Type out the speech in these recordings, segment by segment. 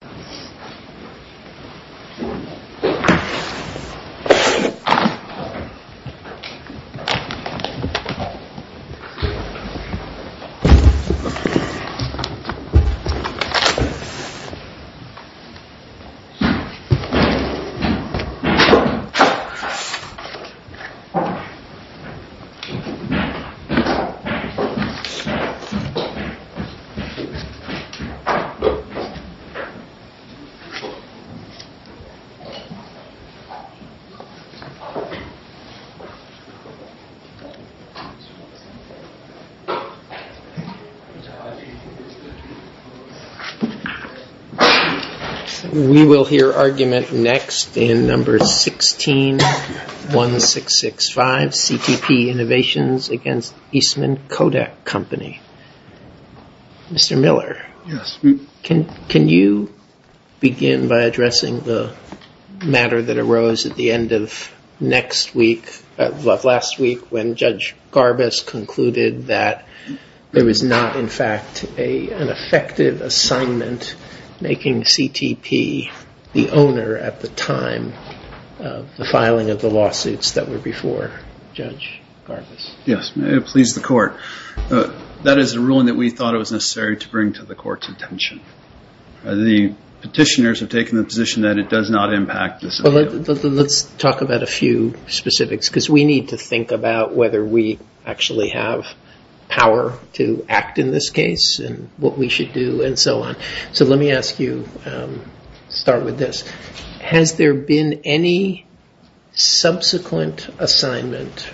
This is a video of the Kodak Innovations, LLC, LLC, which is a company that is based in New York City. We will hear argument next in number 161665, CTP Innovations v. Eastman Kodak Company. Mr. Miller, can you begin by addressing the matter that arose at the end of last week when Judge Garbus concluded that there was not in fact an effective assignment making CTP the owner at the time of the filing of the lawsuits that were before Judge Garbus? Yes, it pleased the court. That is a ruling that we thought it was necessary to bring to the court's attention. The petitioners have taken the position that it does not impact this appeal. Let's talk about a few specifics because we need to think about whether we actually have power to act in this case and what we should do and so on. Has there been any subsequent assignment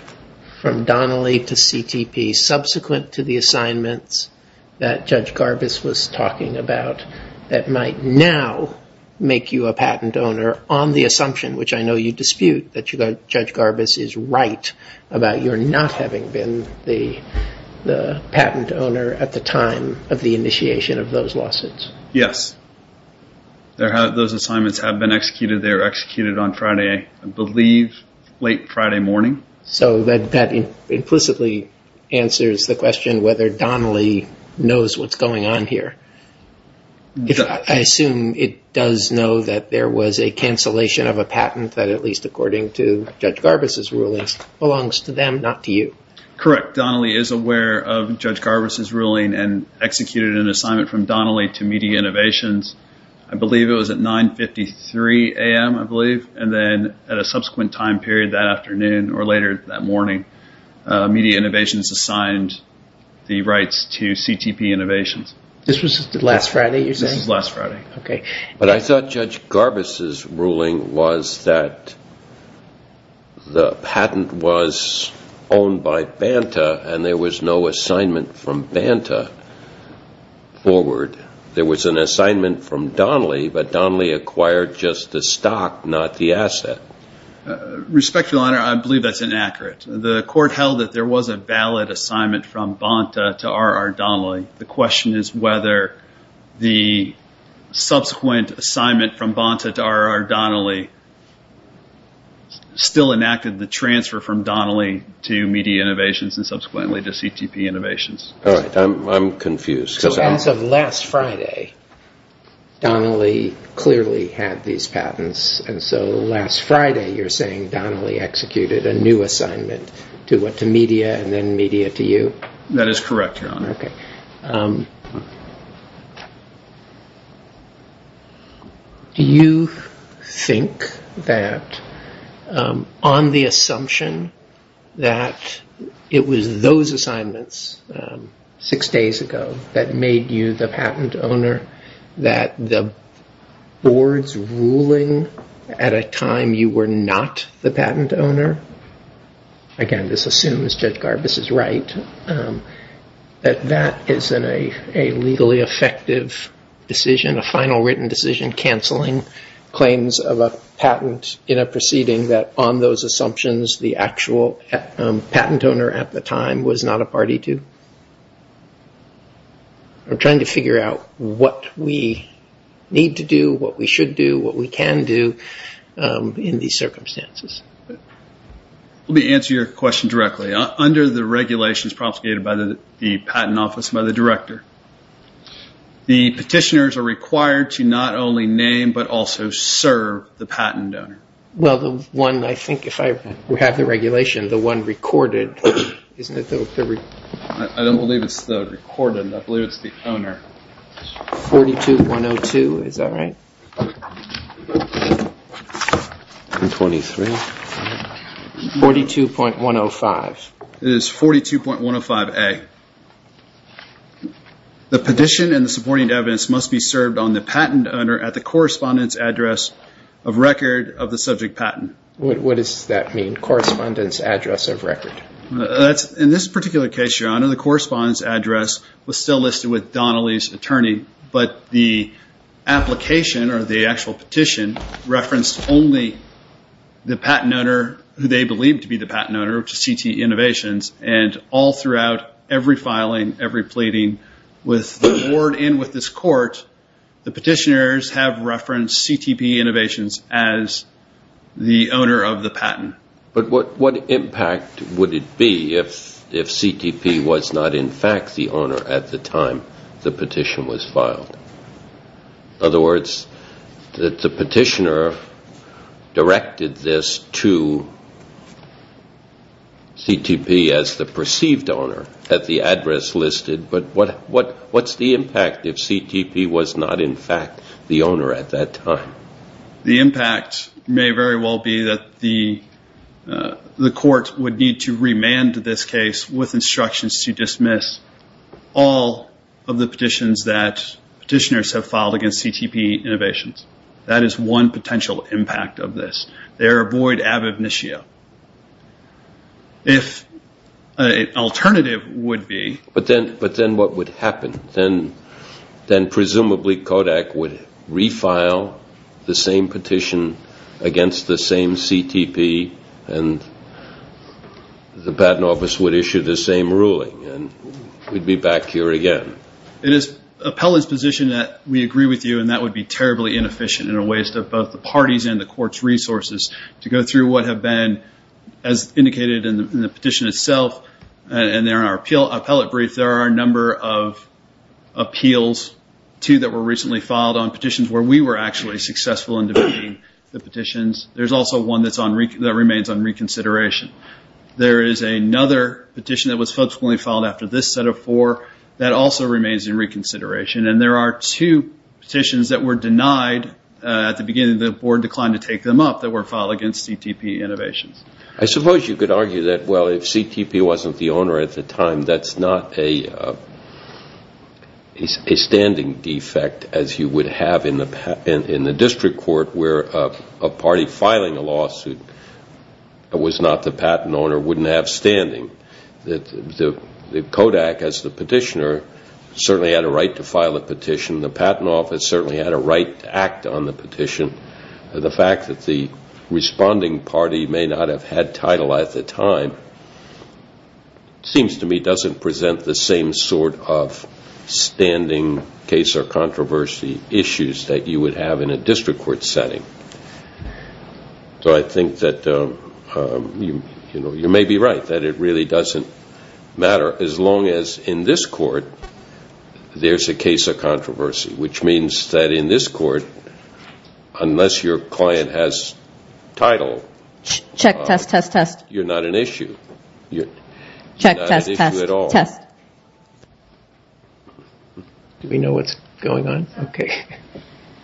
from Donnelly to CTP, subsequent to the assignments that Judge Garbus was talking about, that might now make you a patent owner on the assumption, which I know you dispute, that Judge Garbus is right about you not having been the patent owner at the time of the initiation of those lawsuits? Yes. Those assignments have been executed. They were executed on Friday, I believe, late Friday morning. So that implicitly answers the question whether Donnelly knows what's going on here. I assume it does know that there was a cancellation of a patent that, at least according to Judge Garbus' rulings, belongs to them, not to you. Correct. Donnelly is aware of Judge Garbus' ruling and executed an assignment from Donnelly to Media Innovations, I believe it was at 9.53 a.m., I believe, and then at a subsequent time period that afternoon or later that morning, Media Innovations assigned the rights to CTP Innovations. This was last Friday, you're saying? But I thought Judge Garbus' ruling was that the patent was owned by Banta and there was no assignment from Banta forward. There was an assignment from Donnelly, but Donnelly acquired just the stock, not the asset. Respectfully, Your Honor, I believe that's inaccurate. The court held that there was a valid assignment from Banta to R.R. Donnelly. The question is whether the subsequent assignment from Banta to R.R. Donnelly still enacted the transfer from Donnelly to Media Innovations and subsequently to CTP Innovations. All right, I'm confused. So as of last Friday, Donnelly clearly had these patents, and so last Friday, you're saying Donnelly executed a new assignment to what, to Media and then Media to you? That is correct, Your Honor. Do you think that on the assumption that it was those assignments six days ago that made you the patent owner, that the board's ruling at a time you were not the patent owner, again, this assumes Judge Garbus is right, that that isn't a legally effective decision, a final written decision canceling claims of a patent in a proceeding that on those assumptions the actual patent owner at the time was not a party to? I'm trying to figure out what we need to do, what we should do, what we can do in these circumstances. Let me answer your question directly. Under the regulations promulgated by the Patent Office and by the Director, the petitioners are required to not only name but also serve the patent owner. Well, the one, I think, if I have the regulation, the one recorded, isn't it? I don't believe it's the recorded, I believe it's the owner. 42-102, is that right? 42-103. 42.105. It is 42.105A. The petition and the supporting evidence must be served on the patent owner at the correspondence address of record of the subject patent. What does that mean, correspondence address of record? In this particular case, Your Honor, the correspondence address was still listed with Donnelly's attorney, but the application or the actual petition referenced only the patent owner who they believed to be the patent owner, which is CTE Innovations, and all throughout every filing, every pleading with the board and with this court, the petitioners have referenced CTE Innovations as the owner of the patent. But what impact would it be if CTP was not in fact the owner at the time the petition was filed? In other words, that the petitioner directed this to CTP as the perceived owner at the address listed, but what's the impact if CTP was not in fact the owner at that time? The impact may very well be that the court would need to remand this case with instructions to dismiss all of the petitions that petitioners have filed against CTP Innovations. That is one potential impact of this. They are void ab initio. If an alternative would be… But then what would happen? Then presumably Kodak would refile the same petition against the same CTP and the patent office would issue the same ruling and we'd be back here again. It is appellant's position that we agree with you and that would be terribly inefficient and a waste of both the party's and the court's resources to go through what have been, as indicated in the petition itself, and there are appellate briefs. There are a number of appeals too that were recently filed on petitions where we were actually successful in debating the petitions. There's also one that remains on reconsideration. There is another petition that was subsequently filed after this set of four that also remains in reconsideration and there are two petitions that were denied at the beginning of the board declined to take them up that were filed against CTP Innovations. I suppose you could argue that, well, if CTP wasn't the owner at the time, that's not a standing defect as you would have in the district court where a party filing a lawsuit that was not the patent owner wouldn't have standing. The Kodak, as the petitioner, certainly had a right to file a petition. The patent office certainly had a right to act on the petition. The fact that the responding party may not have had title at the time seems to me doesn't present the same sort of standing case or controversy issues that you would have in a district court setting. So I think that you may be right that it really doesn't matter as long as in this court there's a case of controversy, which means that in this court, unless your client has title, you're not an issue. Do we know what's going on? Okay.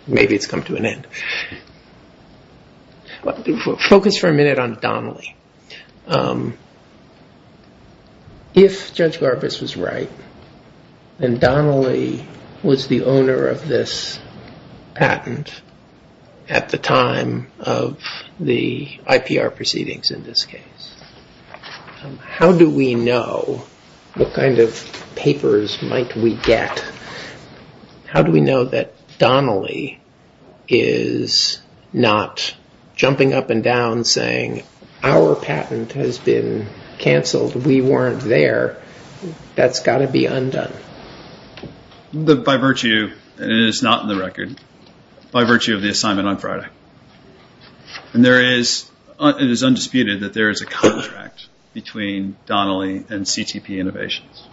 Maybe it's come to an end. Focus for a minute on Donnelly. If Judge Garbus was right, then Donnelly was the owner of this patent at the time of the IPR proceedings in this case. How do we know what kind of papers might we get? How do we know that Donnelly is not jumping up and down saying, our patent has been canceled. We weren't there. That's got to be undone. By virtue, and it is not in the record, by virtue of the assignment on Friday. And it is undisputed that there is a contract between Donnelly and CTP Innovations.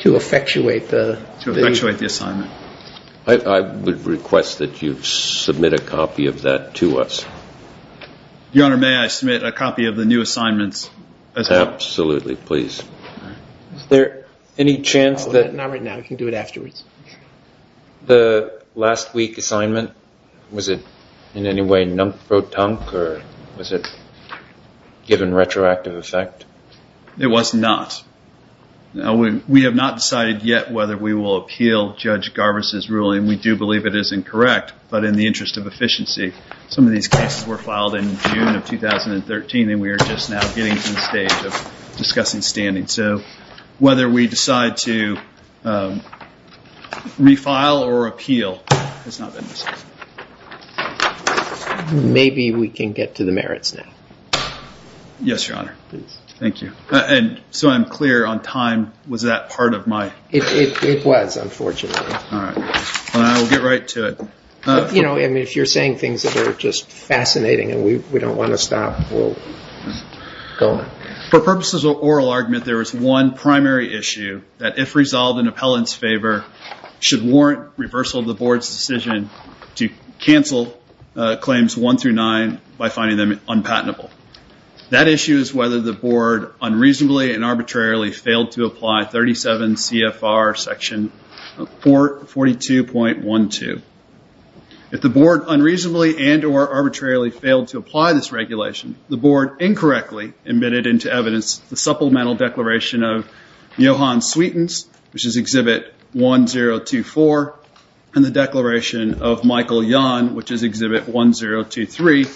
To effectuate the assignment. I would request that you submit a copy of that to us. Your Honor, may I submit a copy of the new assignments? Absolutely, please. Is there any chance that... Not right now, you can do it afterwards. The last week assignment, was it in any way numpro-tunk, or was it given retroactive effect? It was not. We have not decided yet whether we will appeal Judge Garbus' ruling. We do believe it is incorrect, but in the interest of efficiency. Some of these cases were filed in June of 2013, and we are just now getting to the stage of discussing standing. So, whether we decide to refile or appeal has not been decided. Maybe we can get to the merits now. Yes, Your Honor. Thank you. And so I'm clear on time, was that part of my... It was, unfortunately. All right. I'll get right to it. If you're saying things that are just fascinating and we don't want to stop, we'll go on. For purposes of oral argument, there is one primary issue that if resolved in appellant's favor, should warrant reversal of the Board's decision to cancel claims 1 through 9 by finding them unpatentable. That issue is whether the Board unreasonably and arbitrarily failed to apply 37 CFR section 42.12. If the Board unreasonably and or arbitrarily failed to apply this regulation, the Board incorrectly admitted into evidence the supplemental declaration of Johan Sweetens, which is Exhibit 1024, and the declaration of Michael Yon, which is Exhibit 1023,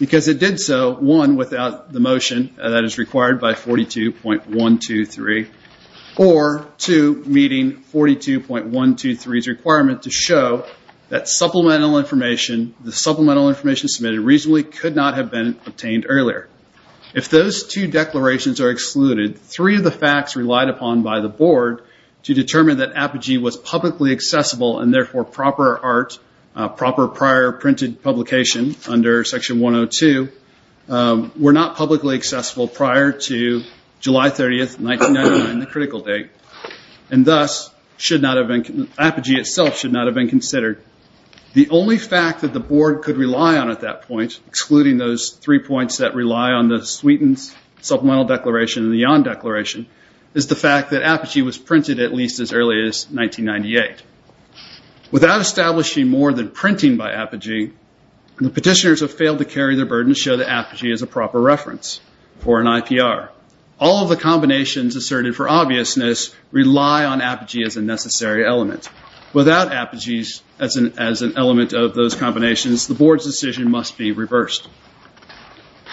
because it did so, one, without the motion that is required by 42.123, or two, meeting 42.123's requirement to show that supplemental information, the supplemental information submitted reasonably could not have been obtained earlier. If those two declarations are excluded, three of the facts relied upon by the Board to determine that Apogee was publicly accessible and therefore proper art, proper prior printed publication under section 102, were not publicly accessible prior to July 30th, 1999, the critical date. And thus, Apogee itself should not have been considered. The only fact that the Board could rely on at that point, excluding those three points that rely on the Sweetens supplemental declaration and the Yon declaration, is the fact that Apogee was printed at least as early as 1998. Without establishing more than printing by Apogee, the petitioners have failed to carry the burden to show that Apogee is a proper reference for an IPR. All of the combinations asserted for obviousness rely on Apogee as a necessary element. Without Apogee as an element of those combinations, the Board's decision must be reversed.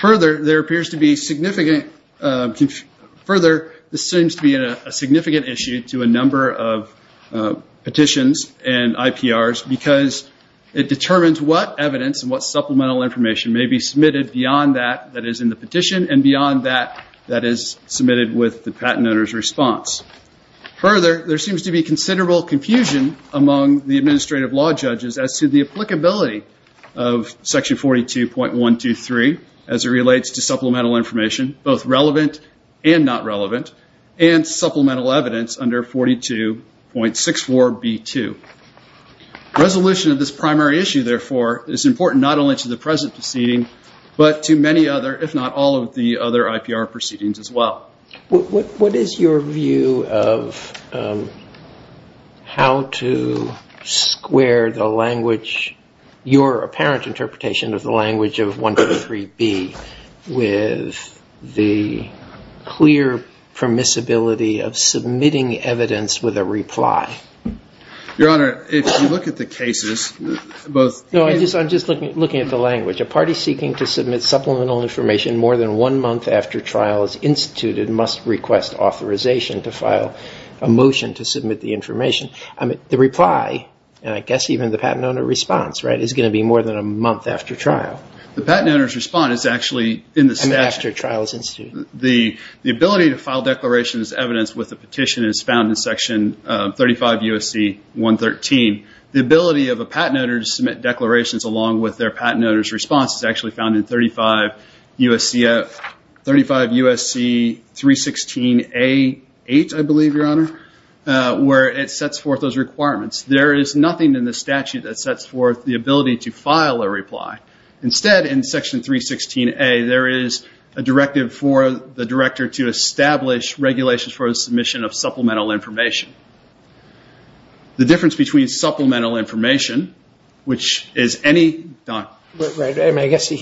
Further, there seems to be a significant issue to a number of petitions and IPRs because it determines what evidence and what supplemental information may be submitted beyond that that is in the petition and beyond that that is submitted with the patent owner's response. Further, there seems to be considerable confusion among the administrative law judges as to the applicability of section 42.123 as it relates to supplemental information, both relevant and not relevant, and supplemental evidence under 42.64B2. Resolution of this primary issue, therefore, is important not only to the present proceeding, but to many other, if not all of the other IPR proceedings as well. What is your view of how to square the language, your apparent interpretation of the language of 123B, with the clear permissibility of submitting evidence with a reply? Your Honor, if you look at the cases... No, I'm just looking at the language. A party seeking to submit supplemental information more than one month after trial is instituted must request authorization to file a motion to submit the information. The reply, and I guess even the patent owner response, is going to be more than a month after trial. The patent owner's response is actually in the statute. After trial is instituted. The ability to file declarations as evidence with a petition is found in section 35 U.S.C. 113. The ability of a patent owner to submit declarations along with their patent owner's response is actually found in 35 U.S.C. 316A8, I believe, Your Honor, where it sets forth those requirements. There is nothing in the statute that sets forth the ability to file a reply. Instead, in section 316A, there is a directive for the director to establish regulations for the submission of supplemental information. The difference between supplemental information, which is any... I guess I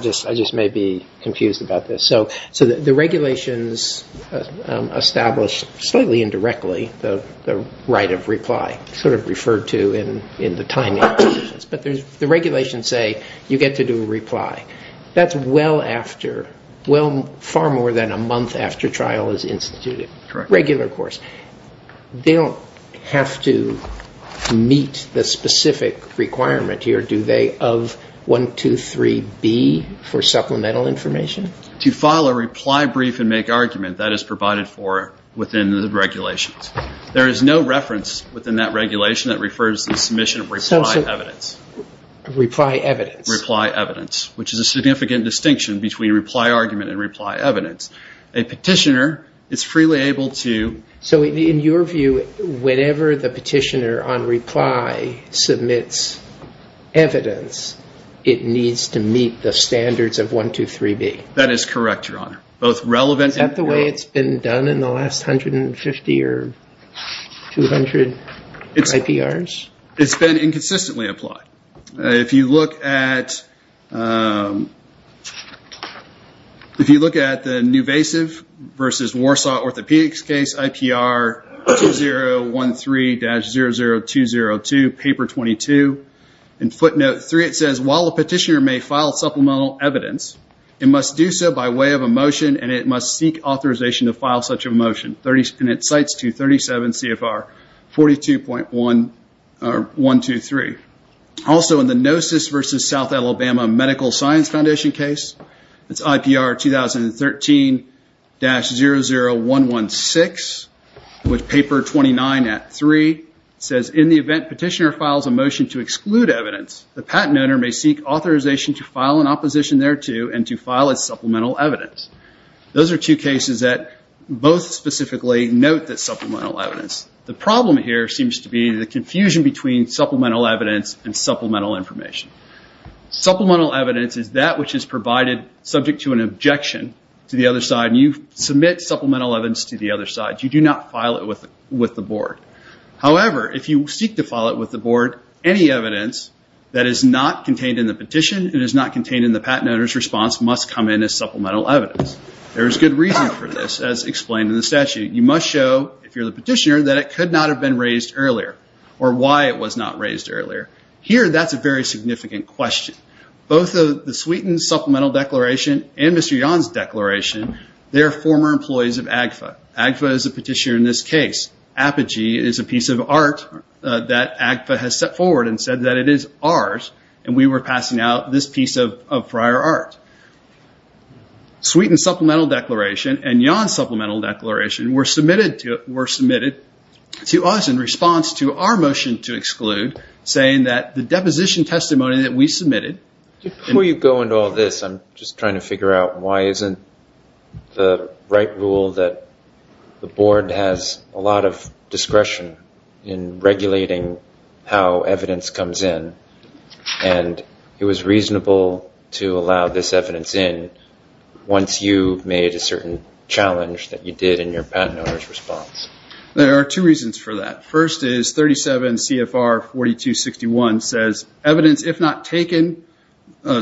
just may be confused about this. The regulations establish, slightly indirectly, the right of reply, sort of referred to in the timing. But the regulations say you get to do a reply. That's well after, far more than a month after trial is instituted. Regular course. They don't have to meet the specific requirement here, do they, of 123B for supplemental information? To file a reply brief and make argument, that is provided for within the regulations. There is no reference within that regulation that refers to the submission of reply evidence. Reply evidence. Reply evidence, which is a significant distinction between reply argument and reply evidence. A petitioner is freely able to... So in your view, whenever the petitioner on reply submits evidence, it needs to meet the standards of 123B. That is correct, Your Honor. Both relevant... Is that the way it's been done in the last 150 or 200 IPRs? It's been inconsistently applied. If you look at the Newvasive versus Warsaw Orthopedics case, IPR 2013-00202, paper 22. In footnote 3, it says, while a petitioner may file supplemental evidence, it must do so by way of a motion, and it must seek authorization to file such a motion. And it cites 237 CFR 42.123. Also, in the Gnosis versus South Alabama Medical Science Foundation case, it's IPR 2013-00116, with paper 29 at 3. It says, in the event petitioner files a motion to exclude evidence, the patent owner may seek authorization to file an opposition thereto and to file as supplemental evidence. Those are two cases that both specifically note that supplemental evidence. The problem here seems to be the confusion between supplemental evidence and supplemental information. Supplemental evidence is that which is provided subject to an objection to the other side, and you submit supplemental evidence to the other side. You may not file it with the board. However, if you seek to file it with the board, any evidence that is not contained in the petition, it is not contained in the patent owner's response, must come in as supplemental evidence. There is good reason for this, as explained in the statute. You must show, if you're the petitioner, that it could not have been raised earlier, or why it was not raised earlier. Here, that's a very significant question. Both the Sweeten Supplemental Declaration and Mr. Yon's Declaration, they're former employees of AGFA. AGFA is a petitioner in this case. Apogee is a piece of art that AGFA has set forward and said that it is ours, and we were passing out this piece of prior art. Sweeten Supplemental Declaration and Yon's Supplemental Declaration were submitted to us in response to our motion to exclude, saying that the deposition testimony that we submitted... The board has a lot of discretion in regulating how evidence comes in, and it was reasonable to allow this evidence in, once you made a certain challenge that you did in your patent owner's response. There are two reasons for that. First is 37 CFR 4261 says, evidence if not taken,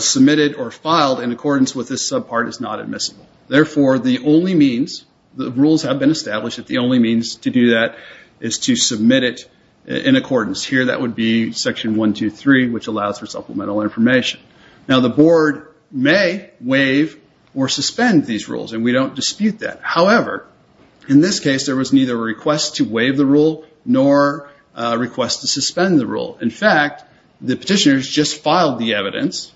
submitted, or filed in accordance with this subpart is not admissible. Therefore, the only means... The rules have been established that the only means to do that is to submit it in accordance. Here, that would be Section 123, which allows for supplemental information. Now, the board may waive or suspend these rules, and we don't dispute that. However, in this case, there was neither a request to waive the rule nor a request to suspend the rule. In fact, the petitioners just filed the evidence,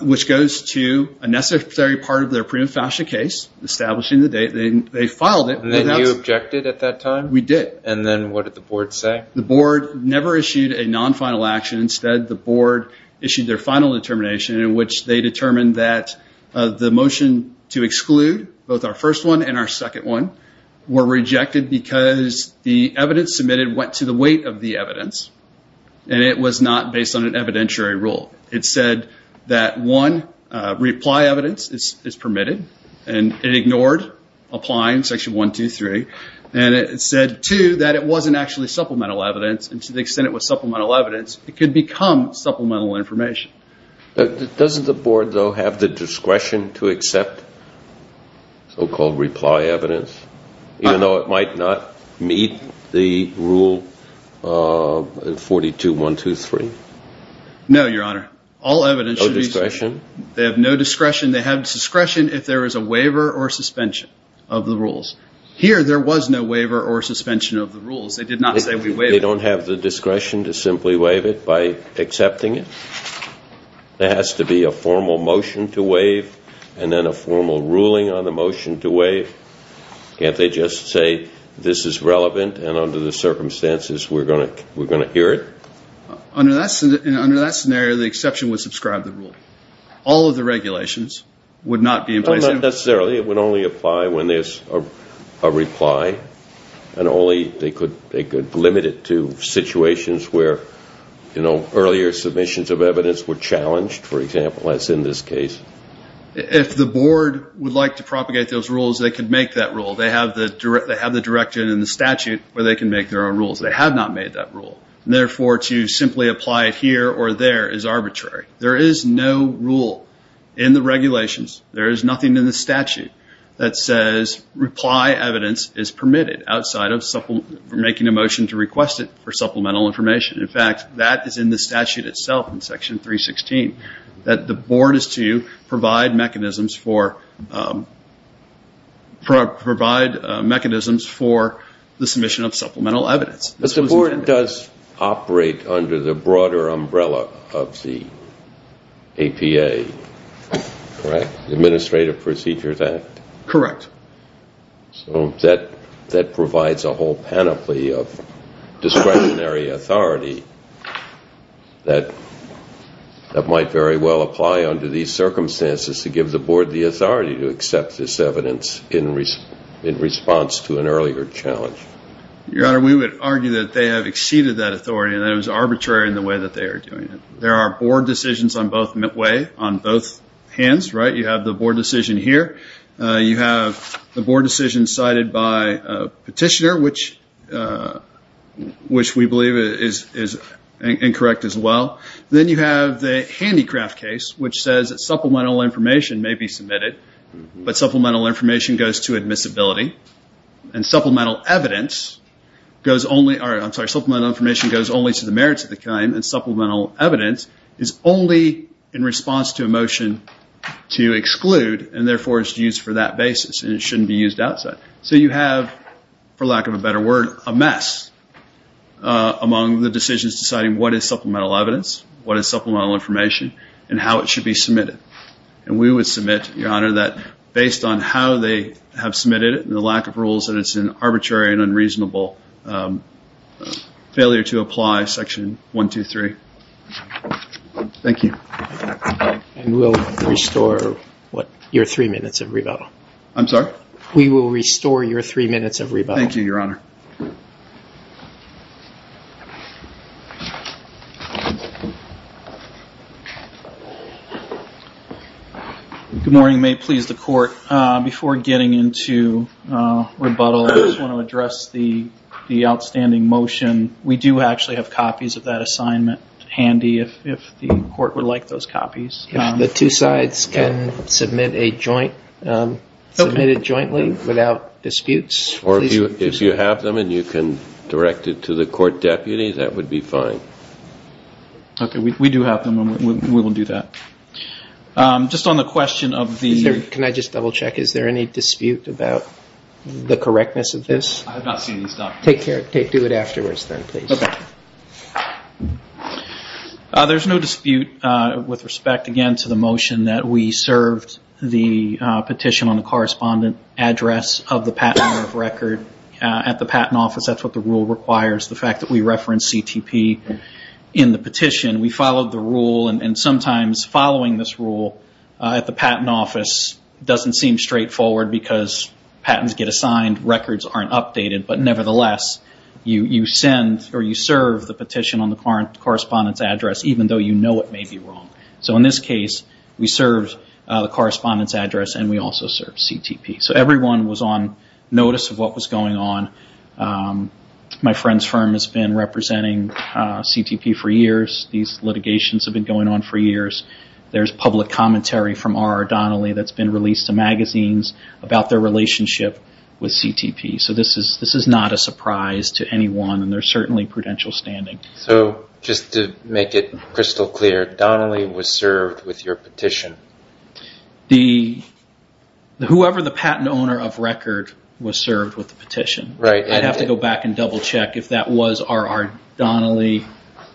which goes to a necessary part of their prima facie case, establishing the date they filed it. And then you objected at that time? We did. And then what did the board say? The board never issued a non-final action. Instead, the board issued their final determination, in which they determined that the motion to exclude, both our first one and our second one, were rejected because the evidence submitted went to the weight of the evidence, and it was not based on an evidentiary rule. It said that, one, reply evidence is permitted, and it ignored applying Section 123. And it said, two, that it wasn't actually supplemental evidence, and to the extent it was supplemental evidence, it could become supplemental information. Doesn't the board, though, have the discretion to accept so-called reply evidence, even though it might not meet the Rule 42.123? No, Your Honor. All evidence should be submitted. They have no discretion. They have discretion if there is a waiver or suspension of the rules. Here, there was no waiver or suspension of the rules. They did not say we waived it. They don't have the discretion to simply waive it by accepting it? There has to be a formal motion to waive, and then a formal ruling on the motion to waive. Can't they just say, this is relevant, and under the circumstances, we're going to hear it? Under that scenario, the exception would subscribe the rule. All of the regulations would not be in place. Not necessarily. It would only apply when there's a reply, and only they could limit it to situations where, you know, earlier submissions of evidence were challenged, for example, as in this case. If the board would like to propagate those rules, they could make that rule. They have the direction in the statute where they can make their own rules. They have not made that rule. To simply apply it here or there is arbitrary. There is no rule in the regulations. There is nothing in the statute that says reply evidence is permitted outside of making a motion to request it for supplemental information. In fact, that is in the statute itself, in Section 316, that the board is to provide mechanisms for the submission of supplemental evidence. But the board does operate under the broader umbrella of the APA, correct? The Administrative Procedures Act? Correct. So that provides a whole panoply of discretionary authority that might very well apply under these circumstances to give the board the authority to accept this evidence in response to an earlier challenge. Your Honor, we would argue that they have exceeded that authority and that it was arbitrary in the way that they are doing it. There are board decisions on both hands, right? You have the board decision here. You have the board decision cited by a petitioner, which we believe is incorrect as well. Then you have the handicraft case, which says that supplemental information may be submitted, but supplemental information goes to admissibility. Supplemental information goes only to the merits of the claim and supplemental evidence is only in response to a motion to exclude and therefore is used for that basis. It should not be used outside. So you have, for lack of a better word, a mess among the decisions deciding what is supplemental evidence, what is supplemental information, and how it should be submitted. We would submit, Your Honor, that based on how they have submitted it and the lack of rules, that it's an arbitrary and unreasonable failure to apply Section 123. Thank you. And we'll restore your three minutes of rebuttal. I'm sorry? We will restore your three minutes of rebuttal. Thank you, Your Honor. Good morning. Your Honor, if you may please the court, before getting into rebuttal, I just want to address the outstanding motion. We do actually have copies of that assignment handy if the court would like those copies. If the two sides can submit a joint, submit it jointly without disputes. Or if you have them and you can direct it to the court deputy, that would be fine. Okay, we do have them and we will do that. Just on the question of the... Can I just double check? Is there any dispute about the correctness of this? I have not seen these documents. Do it afterwards then, please. Okay. There's no dispute with respect, again, to the motion that we served the petition on the correspondent address of the Patent Office. That's what the rule requires, the fact that we referenced CTP in the petition. We followed the rule, and sometimes following this rule at the Patent Office doesn't seem straightforward because patents get assigned, records aren't updated. But nevertheless, you send or you serve the petition on the correspondent's address even though you know it may be wrong. So in this case, we serve the correspondent's address and we also serve CTP. So everyone was on notice of what was going on. My friend's firm has been representing CTP for years. These litigations have been going on for years. There's public commentary from R.R. Donnelly that's been released to magazines about their relationship with CTP. So this is not a surprise to anyone, and there's certainly prudential standing. So just to make it crystal clear, Donnelly was served with your petition? Whoever the patent owner of record was served with the petition. I'd have to go back and double check if that was R.R. Donnelly.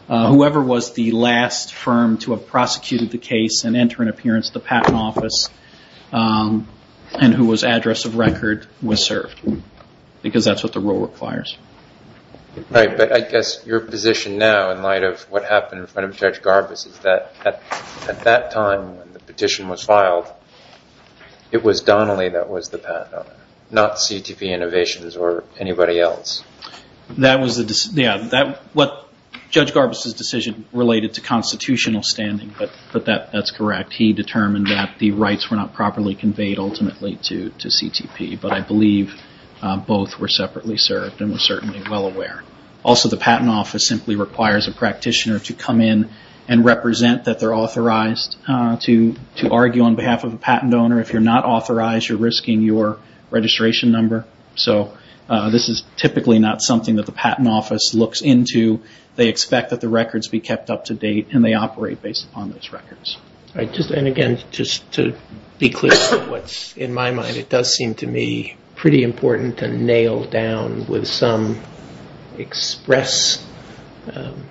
Whoever was the last firm to have prosecuted the case and enter an appearance at the patent office and who was address of record was served because that's what the rule requires. Right, but I guess your position now in light of what happened in front of Judge Garbus is that at that time when the petition was filed, it was Donnelly that was the patent owner, not CTP Innovations or anybody else. That was what Judge Garbus' decision related to constitutional standing, but that's correct. He determined that the rights were not properly conveyed ultimately to CTP, but I believe both were separately served and were certainly well aware. Also, the patent office simply requires a practitioner to come in and represent that they're authorized to argue on behalf of a patent owner. If you're not authorized, you're risking your registration number. This is typically not something that the patent office looks into. They expect that the records be kept up to date and they operate based upon those records. All right, and again, just to be clear about what's in my mind, it does seem to me pretty important to nail down with some express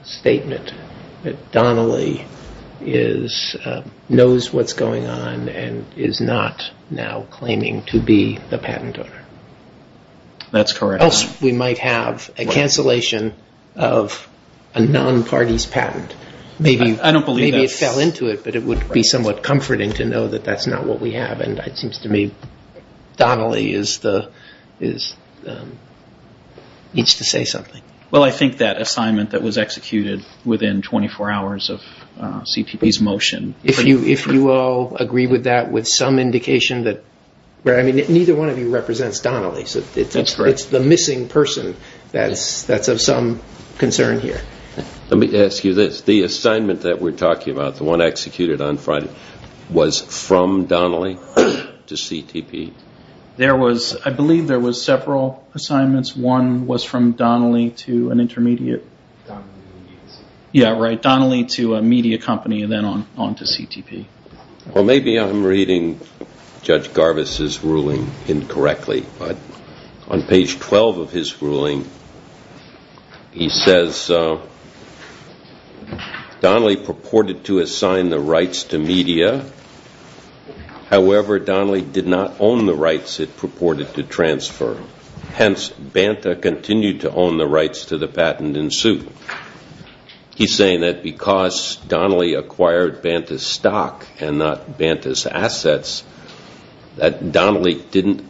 statement that Donnelly knows what's going on and is not now claiming to be the patent owner. That's correct. Else we might have a cancellation of a non-parties patent. I don't believe that's... Maybe it fell into it, but it would be somewhat comforting to know that that's not what we have and it seems to me Donnelly needs to say something. Well, I think that assignment that was executed within 24 hours of CTP's motion... If you all agree with that with some indication that... I mean, neither one of you represents Donnelly, so it's the missing person that's of some concern here. Let me ask you this. The assignment that we're talking about, the one executed on Friday, was from Donnelly to CTP? There was... I believe there was several assignments. One was from Donnelly to an intermediate... Donnelly Media Company. Yeah, right, Donnelly to a media company and then on to CTP. Well, maybe I'm reading Judge Garvis' ruling incorrectly, but on page 12 of his ruling, he says, Donnelly purported to assign the rights to media. However, Donnelly did not own the rights it purported to transfer. Hence, Banta continued to own the rights to the patent in suit. and not Banta's assets, that Donnelly didn't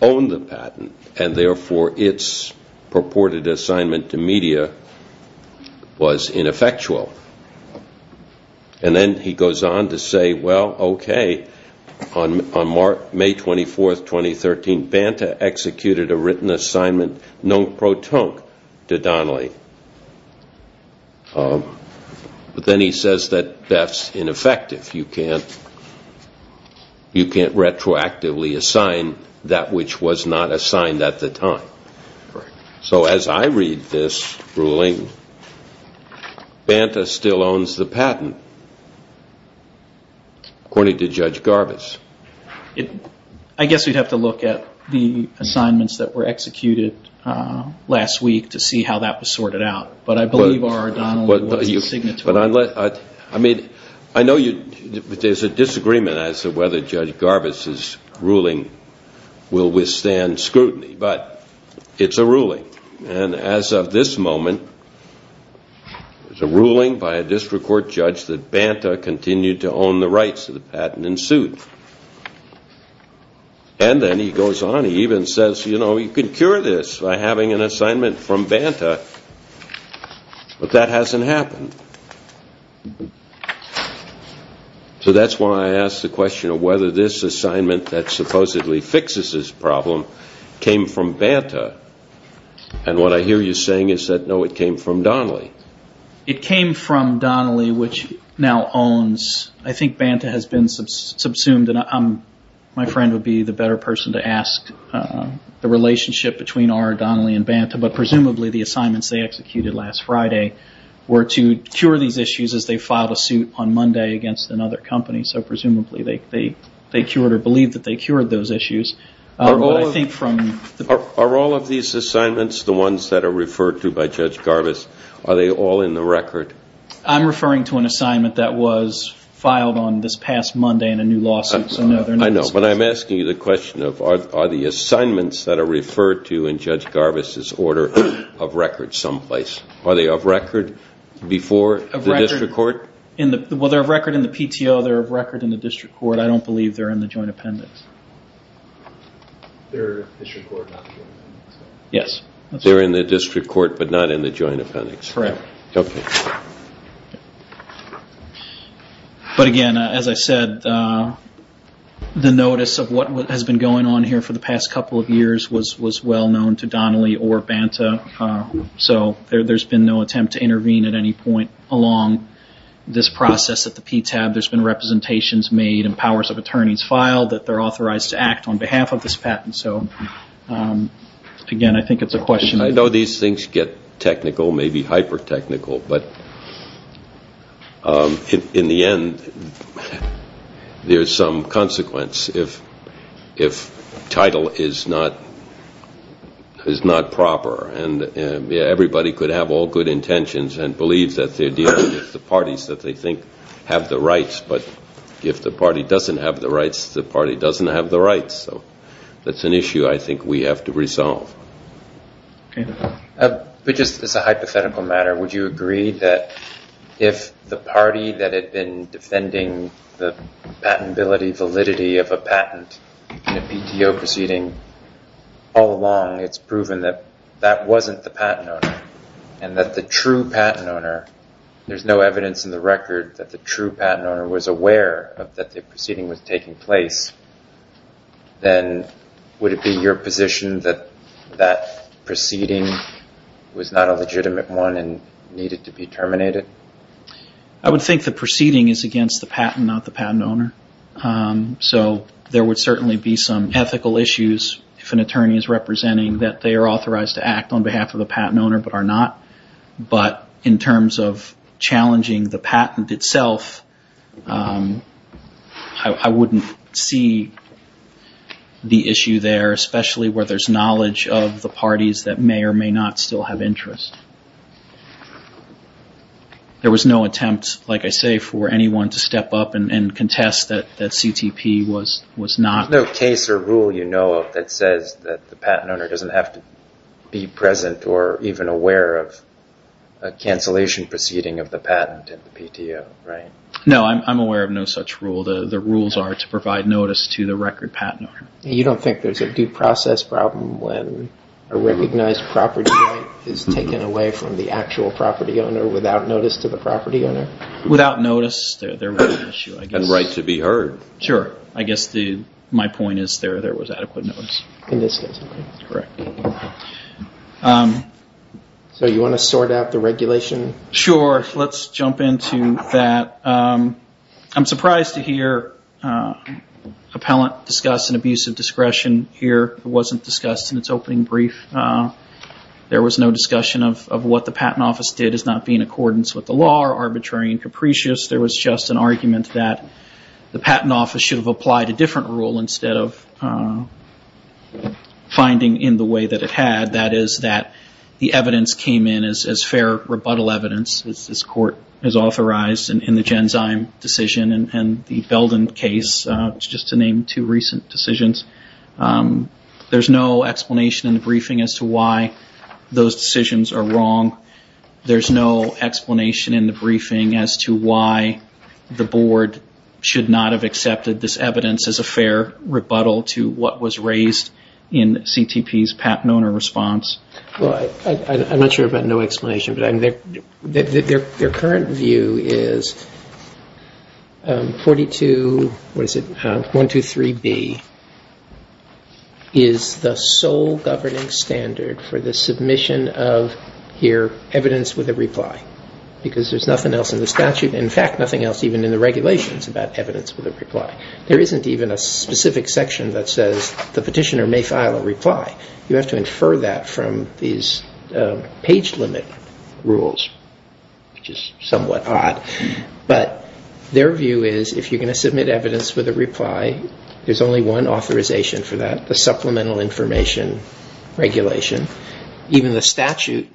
own the patent and therefore its purported assignment to media was ineffectual. And then he goes on to say, well, okay, on May 24, 2013, Banta executed a written assignment non-protonque to Donnelly. But then he says that that's ineffective. You can't... you can't retroactively assign that which was not assigned at the time. So as I read this ruling, Banta still owns the patent, according to Judge Garvis. I guess we'd have to look at the assignments that were executed last week to see how that was sorted out. But I believe R. R. Donnelly was the signatory. I mean, I know you... but there's a disagreement as to whether Judge Garvis' ruling will withstand scrutiny, but it's a ruling. And as of this moment, it's a ruling by a district court judge that Banta continued to own the rights to the patent in suit. And then he goes on, he even says, you know, you can cure this by having an assignment from Banta, but that hasn't happened. So that's why I asked the question of whether this assignment that supposedly fixes this problem came from Banta. And what I hear you saying is that no, it came from Donnelly. It came from Donnelly, which now owns... I think Banta has been subsumed and I'm... my friend would be the better person to ask the relationship between R. R. Donnelly and Banta, but presumably the assignments they executed last Friday were to cure these issues as they filed a suit on Monday against another company. So presumably they cured or believed that they cured those issues. Are all of these assignments the ones that are referred to by Judge Garvis? Are they all in the record? I'm referring to an assignment that was filed on this past Monday in a new lawsuit. I know, but I'm asking you the question of are the assignments in some place? Are they of record before the district court? Well, they're of record in the PTO. They're of record in the district court. I don't believe they're in the joint appendix. They're in the district court but not in the joint appendix. Correct. Okay. But again, as I said, the notice of what has been going on here for the past couple of years was well known to Donnelly or Banta. So there's been no attempt to intervene at any point along this process at the PTAB. There's been representations made and powers of attorneys filed that they're authorized to act on behalf of this patent. So again, I think it's a question. I know these things get technical, maybe hyper-technical, but in the end there's some consequence if title is not proper. And everybody could have all good intentions and believe that they're dealing with the parties that they think have the rights, but if the party doesn't have the rights, the party doesn't have the rights. So that's an issue I think we have to resolve. Okay. But just as a hypothetical matter, would you agree that if the party that had been defending the patentability, validity of a patent in a PTO proceeding that that wasn't the patent owner and that the true patent owner, there's no evidence in the record that the true patent owner was aware that the proceeding was taking place, then would it be your position that that proceeding was not a legitimate one and needed to be terminated? I would think the proceeding is against the patent, not the patent owner. So there would certainly be some ethical issues that are on behalf of the patent owner but are not. But in terms of challenging the patent itself, I wouldn't see the issue there, especially where there's knowledge of the parties that may or may not still have interest. There was no attempt, like I say, for anyone to step up and contest that CTP was not. There's no case or rule you know that says that the patent owner doesn't have to be present or even aware of a cancellation proceeding of the patent in the PTO, right? No, I'm aware of no such rule. The rules are to provide notice to the record patent owner. You don't think there's a due process problem when a recognized property right is taken away from the actual property owner without notice to the property owner? Without notice, in this case. Correct. So you want to sort out the regulation? Sure. Let's jump into that. I'm surprised to hear appellant discuss an abuse of discretion here. It wasn't discussed in its opening brief. There was no discussion of what the patent office did as not being in accordance with the law or arbitrary and capricious. There was just an argument that the patent office should have applied a different rule instead of finding in the way that it had. That is that the evidence came in as fair rebuttal evidence as this court has authorized in the Genzyme decision and the Belden case just to name two recent decisions. There's no explanation in the briefing as to why those decisions are wrong. There's no explanation in the briefing as to why the board should not have accepted this evidence as a fair rebuttal to what was raised in CTP's patent owner response. I'm not sure about no explanation. Their current view is 42 what is it 123B is the sole governing standard for the submission of here evidence with a reply because there's nothing else in the statute in fact nothing else even in the regulations about evidence with a reply. There isn't even a specific section that says the petitioner may file a reply. You have to infer that from these page limit rules which is somewhat odd. But their view is if you're going to submit evidence with a reply there's only one authorization for that the supplemental information regulation. Even the statute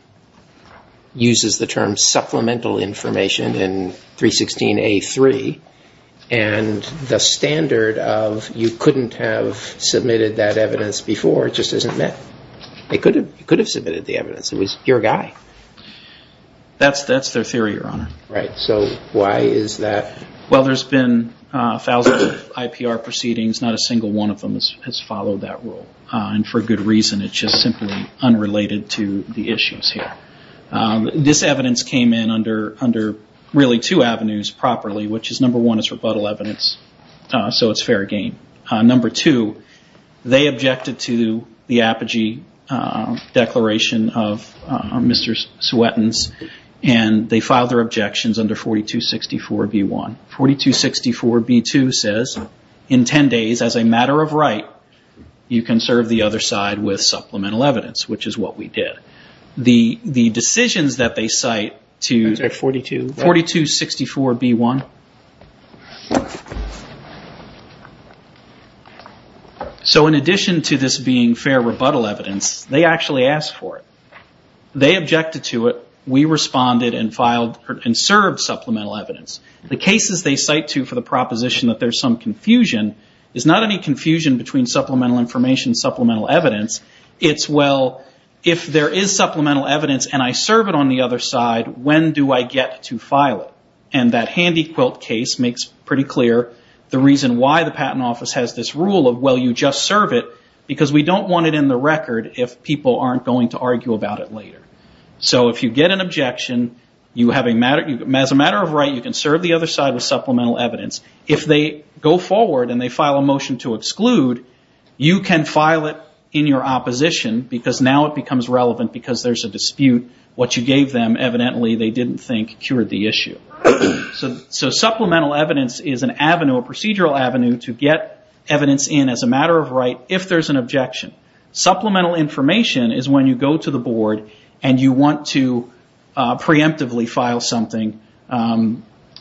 uses the term supplemental information in 316A3 and the standard of you couldn't have submitted that evidence before just isn't met. They could have submitted the evidence. It was your guy. That's their theory your honor. Right so why is that? Well there's been thousands of IPR proceedings not a single one of them has followed that rule. And for good reason it's just simply unrelated to the issues here. This evidence came in under really two avenues properly which is number one is rebuttal evidence so it's fair game. Number two they objected to the Apogee declaration of Mr. Swettons and they filed their objections under 4264B1. 4264B2 says in 10 days as a matter of right you can serve the other side with supplemental evidence which is what we did. The decisions that they cite to 4264B1 so in addition to this being fair rebuttal evidence they actually asked for it. They objected to it we responded and filed and served supplemental evidence. The cases they cite to for the proposition that there's some confusion is not any confusion between supplemental information supplemental evidence it's well if there is supplemental evidence and I serve it on the other side when do I get to file it? That handy quilt case makes pretty clear the reason why the patent office has this rule of well you just serve it because we don't want it in the record if people aren't going to argue about it later. If you get an objection as a matter of right you can serve the other side with supplemental evidence. If they go forward and file a motion to exclude you can file it in your opposition because now it becomes relevant because there's a dispute what you gave them evidently they didn't think cured the issue. Supplemental evidence is an avenue a procedural avenue to get evidence in as a matter of right if there's an objection. Supplemental information is when you go to the board and you want to preemptively file something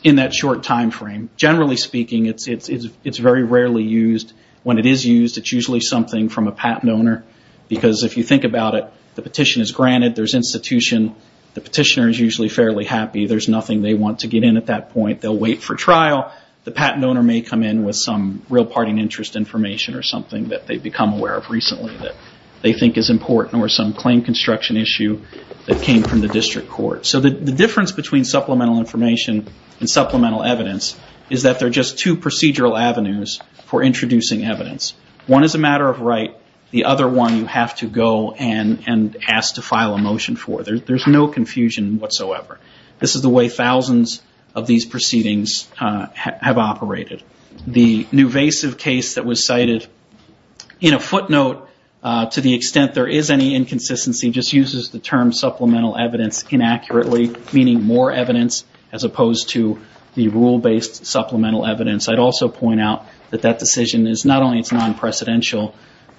in that short time frame. Generally speaking it's very rarely used. When it is used it's usually something from a patent owner because if you think about it the petition is granted, there's institution, the petitioner is usually fairly happy, there's nothing they want to get in at that point, they'll wait for trial, the patent owner may come in with some real parting interest information or something that they've become aware of recently that they think is important or some claim construction issue that came from the district court. So the difference between supplemental information and supplemental evidence is that they're just two procedural avenues for introducing evidence. One is a matter of right, the other one you have to go and ask to file a motion for. There's no confusion whatsoever. This is the way thousands of these proceedings have operated. The Nuvasiv case that was cited in a footnote to the petitioner as opposed to the rule-based supplemental evidence, I'd also point out that that not only non-precedential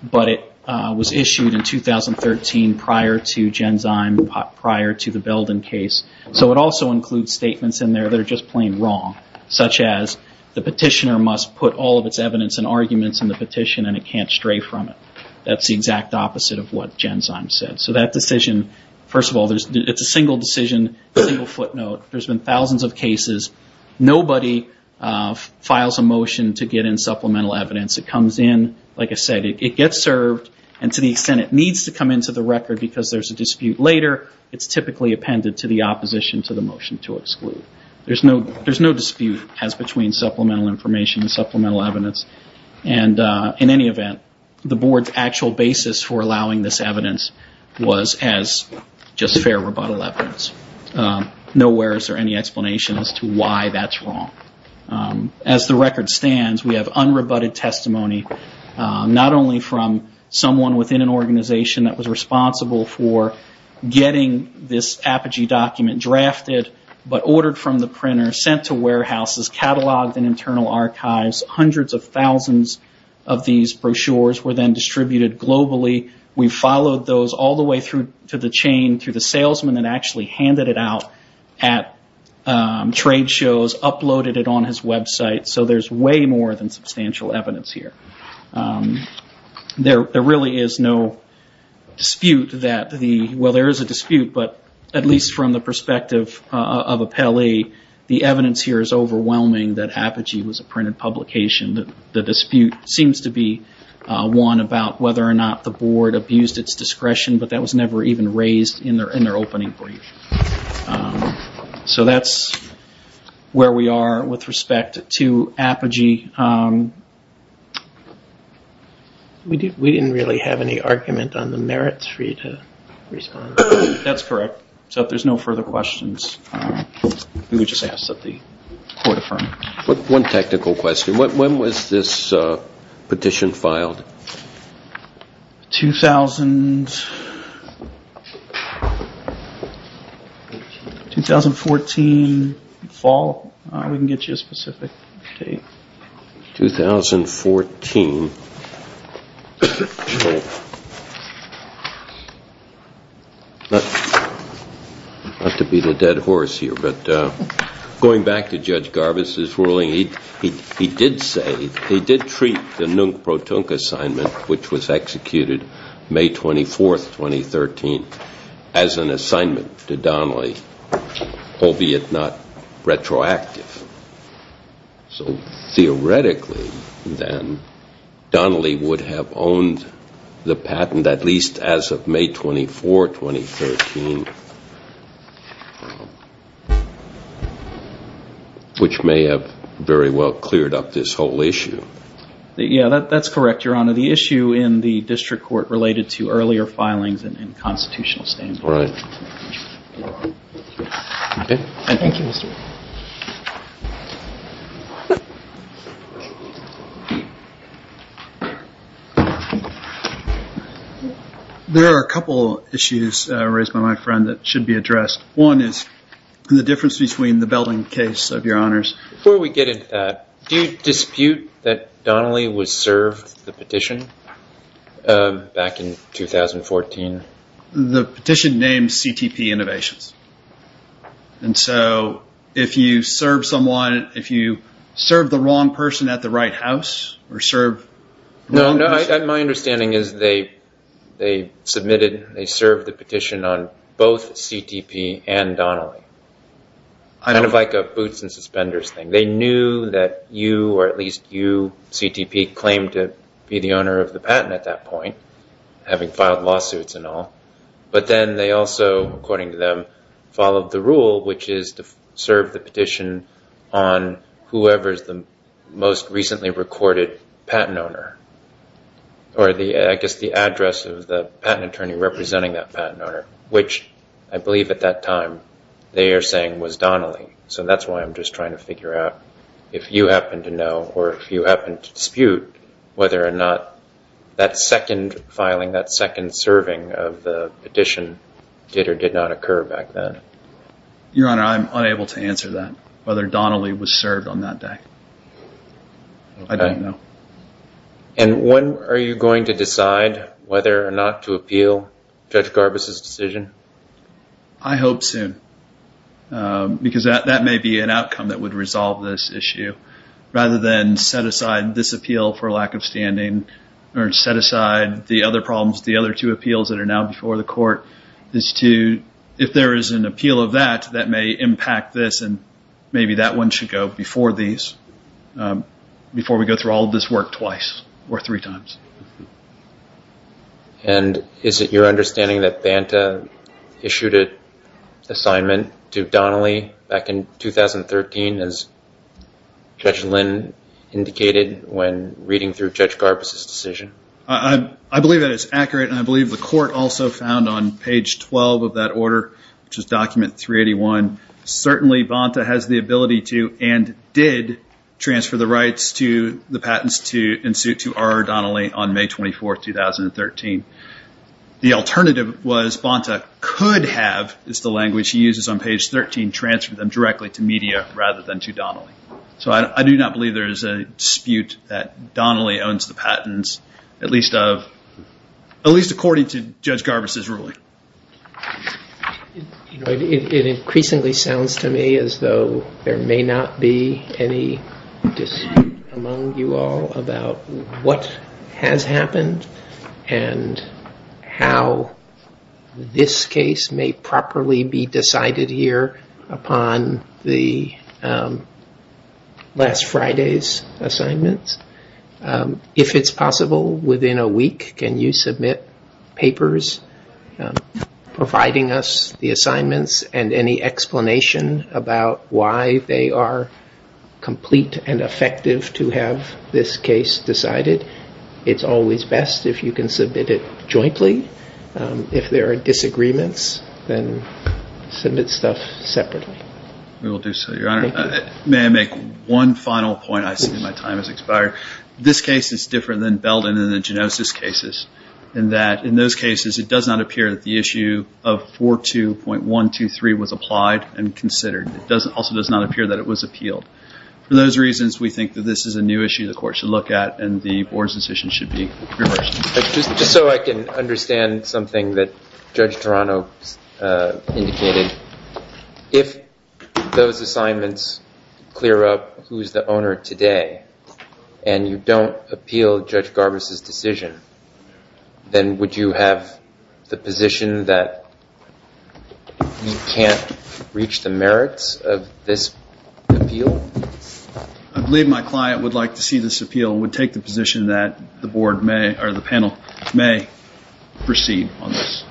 but it was issued in 2013 prior to Genzyme, prior to the Belden case. So it also includes statements in there that are just plain wrong such as the petitioner must put all of its evidence and arguments in the petition and it can't stray from it. That's the exact opposite of what Genzyme said. So that decision, first of all, it's a single decision, single footnote. There's been thousands of cases. Nobody files a motion to get in supplemental evidence. It comes in, like I said, it gets served and to the extent it needs to come into the record because there's a dispute later, it's typically appended to the opposition to the motion to exclude. There's no dispute as between supplemental information and supplemental evidence and in any event, the board's actual basis for allowing this evidence was as just fair rebuttal evidence. Nowhere is there any explanation as to why that's wrong. As the record stands, we have unrebutted testimony, not only from someone within an organization that was responsible for getting this Apogee document drafted, but ordered from the printer, sent to warehouses, cataloged in internal archives, hundreds of thousands of these brochures were then distributed globally. We followed those all the way through to the chain, through the salesman, and actually handed it out at trade shows, uploaded it on his website, so there's way more than substantial evidence here. There really is no dispute that the... Well, there is a dispute, but at least from the perspective of a Pele, the evidence here is overwhelming that Apogee was a printed publication. The dispute seems to be one about whether or not abused its discretion, but that was never even raised in their opening brief. So that's where we are with respect to Apogee. We didn't really have any argument on the merits of Apogee at the time, but we did have an argument Apogee printed and we did have an argument about whether or not Apogee was a printed publication, and we did have an argument about that. But not to be the dead horse here, but going back to Judge Garbus's ruling, he did say, he did treat the Nung Pro Tung assignment, which was executed May 24, 2013, as an assignment to Donnelly, albeit not retroactive. So theoretically then, Donnelly would have owned the patent at least as of May 24, 2013, which may have very well cleared up this whole issue. Yeah, correct, Your Honor. The issue in the District Court related to earlier filings and constitutional standards. Right. Okay. Thank you, Mr. Garbus. There are a couple issues raised by my friend that should be addressed. One is the difference between the Belding case, Your Honors. Before we get into that, do you dispute that Donnelly was served the petition back in 2014? The petition named CTP Innovations. And so if you serve someone, if you serve the House or serve the Congress? No, my understanding is they submitted, they served the petition on both CTP and Donnelly. Kind of like a boots and suspenders thing. They knew that you or at least you CTP claimed to be the owner of the patent at that time. And they recorded the patent owner which I believe at that time they are saying was Donnelly. So that's why I'm just trying to figure out if you happen to know or if you happen to dispute whether or not that second filing, that second filing was served on that day. I don't know. And when going to decide whether or not to appeal Judge Garbus's decision? I hope soon. Because that may be an outcome that would resolve this issue rather than set aside this appeal for lack of standing or set aside the opportunity to appeal before these. Before we go through all this work twice or three times. Is it your understanding that Banta issued an assignment to Donnelly back in 2013 as Judge Lynn indicated when reading the document? I believe that is accurate. I believe the court also found on page 12 of that order certainly Banta has the ability to and did transfer the rights to Donnelly on May 24th, 2013. The alternative was Banta could have transferred the to Donnelly on May 13th. I do not believe there is a dispute that Donnelly owns the patents at least according to Judge Garvis's ruling. It increasingly sounds to me as though there may not be any dispute among you all about what has happened and how this case may properly be decided here upon the last Friday's assignments. If it is possible, within a week, can you submit papers providing us the assignments and any explanation about why they are complete and effective to have this case decided? It is always best if you can submit it jointly. If there are disagreements, then submit stuff separately. We will do so, Your Honor. May I make one final point? I see my time has expired. This case is different than Belden and the Genosis cases in that in those cases it does not appear that the issue of 42.123 was applied and considered. It also does not appear that it was appealed. For those reasons, we think this is a new issue the court should look at and the board's decision should be reversed. Just so I can understand something that Judge Toronto indicated, if those assignments clear up who is the owner today and you don't appeal Judge Garbus's decision, then would you have the position that you can't reach the merits of this appeal? I believe my client would like to see this appeal and would take the position that the panel may proceed on this.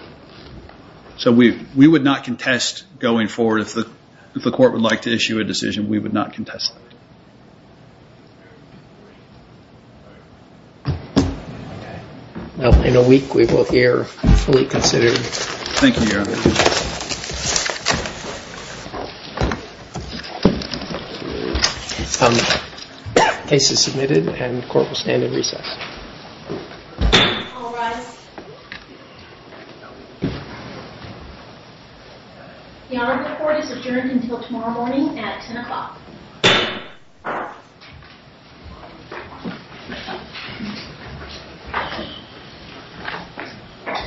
We would not contest going forward if the court would like to issue a decision. In a week we will hear fully considered cases submitted and the court will stand in recess. All rise. The Honorable Court is adjourned morning at 10 o'clock.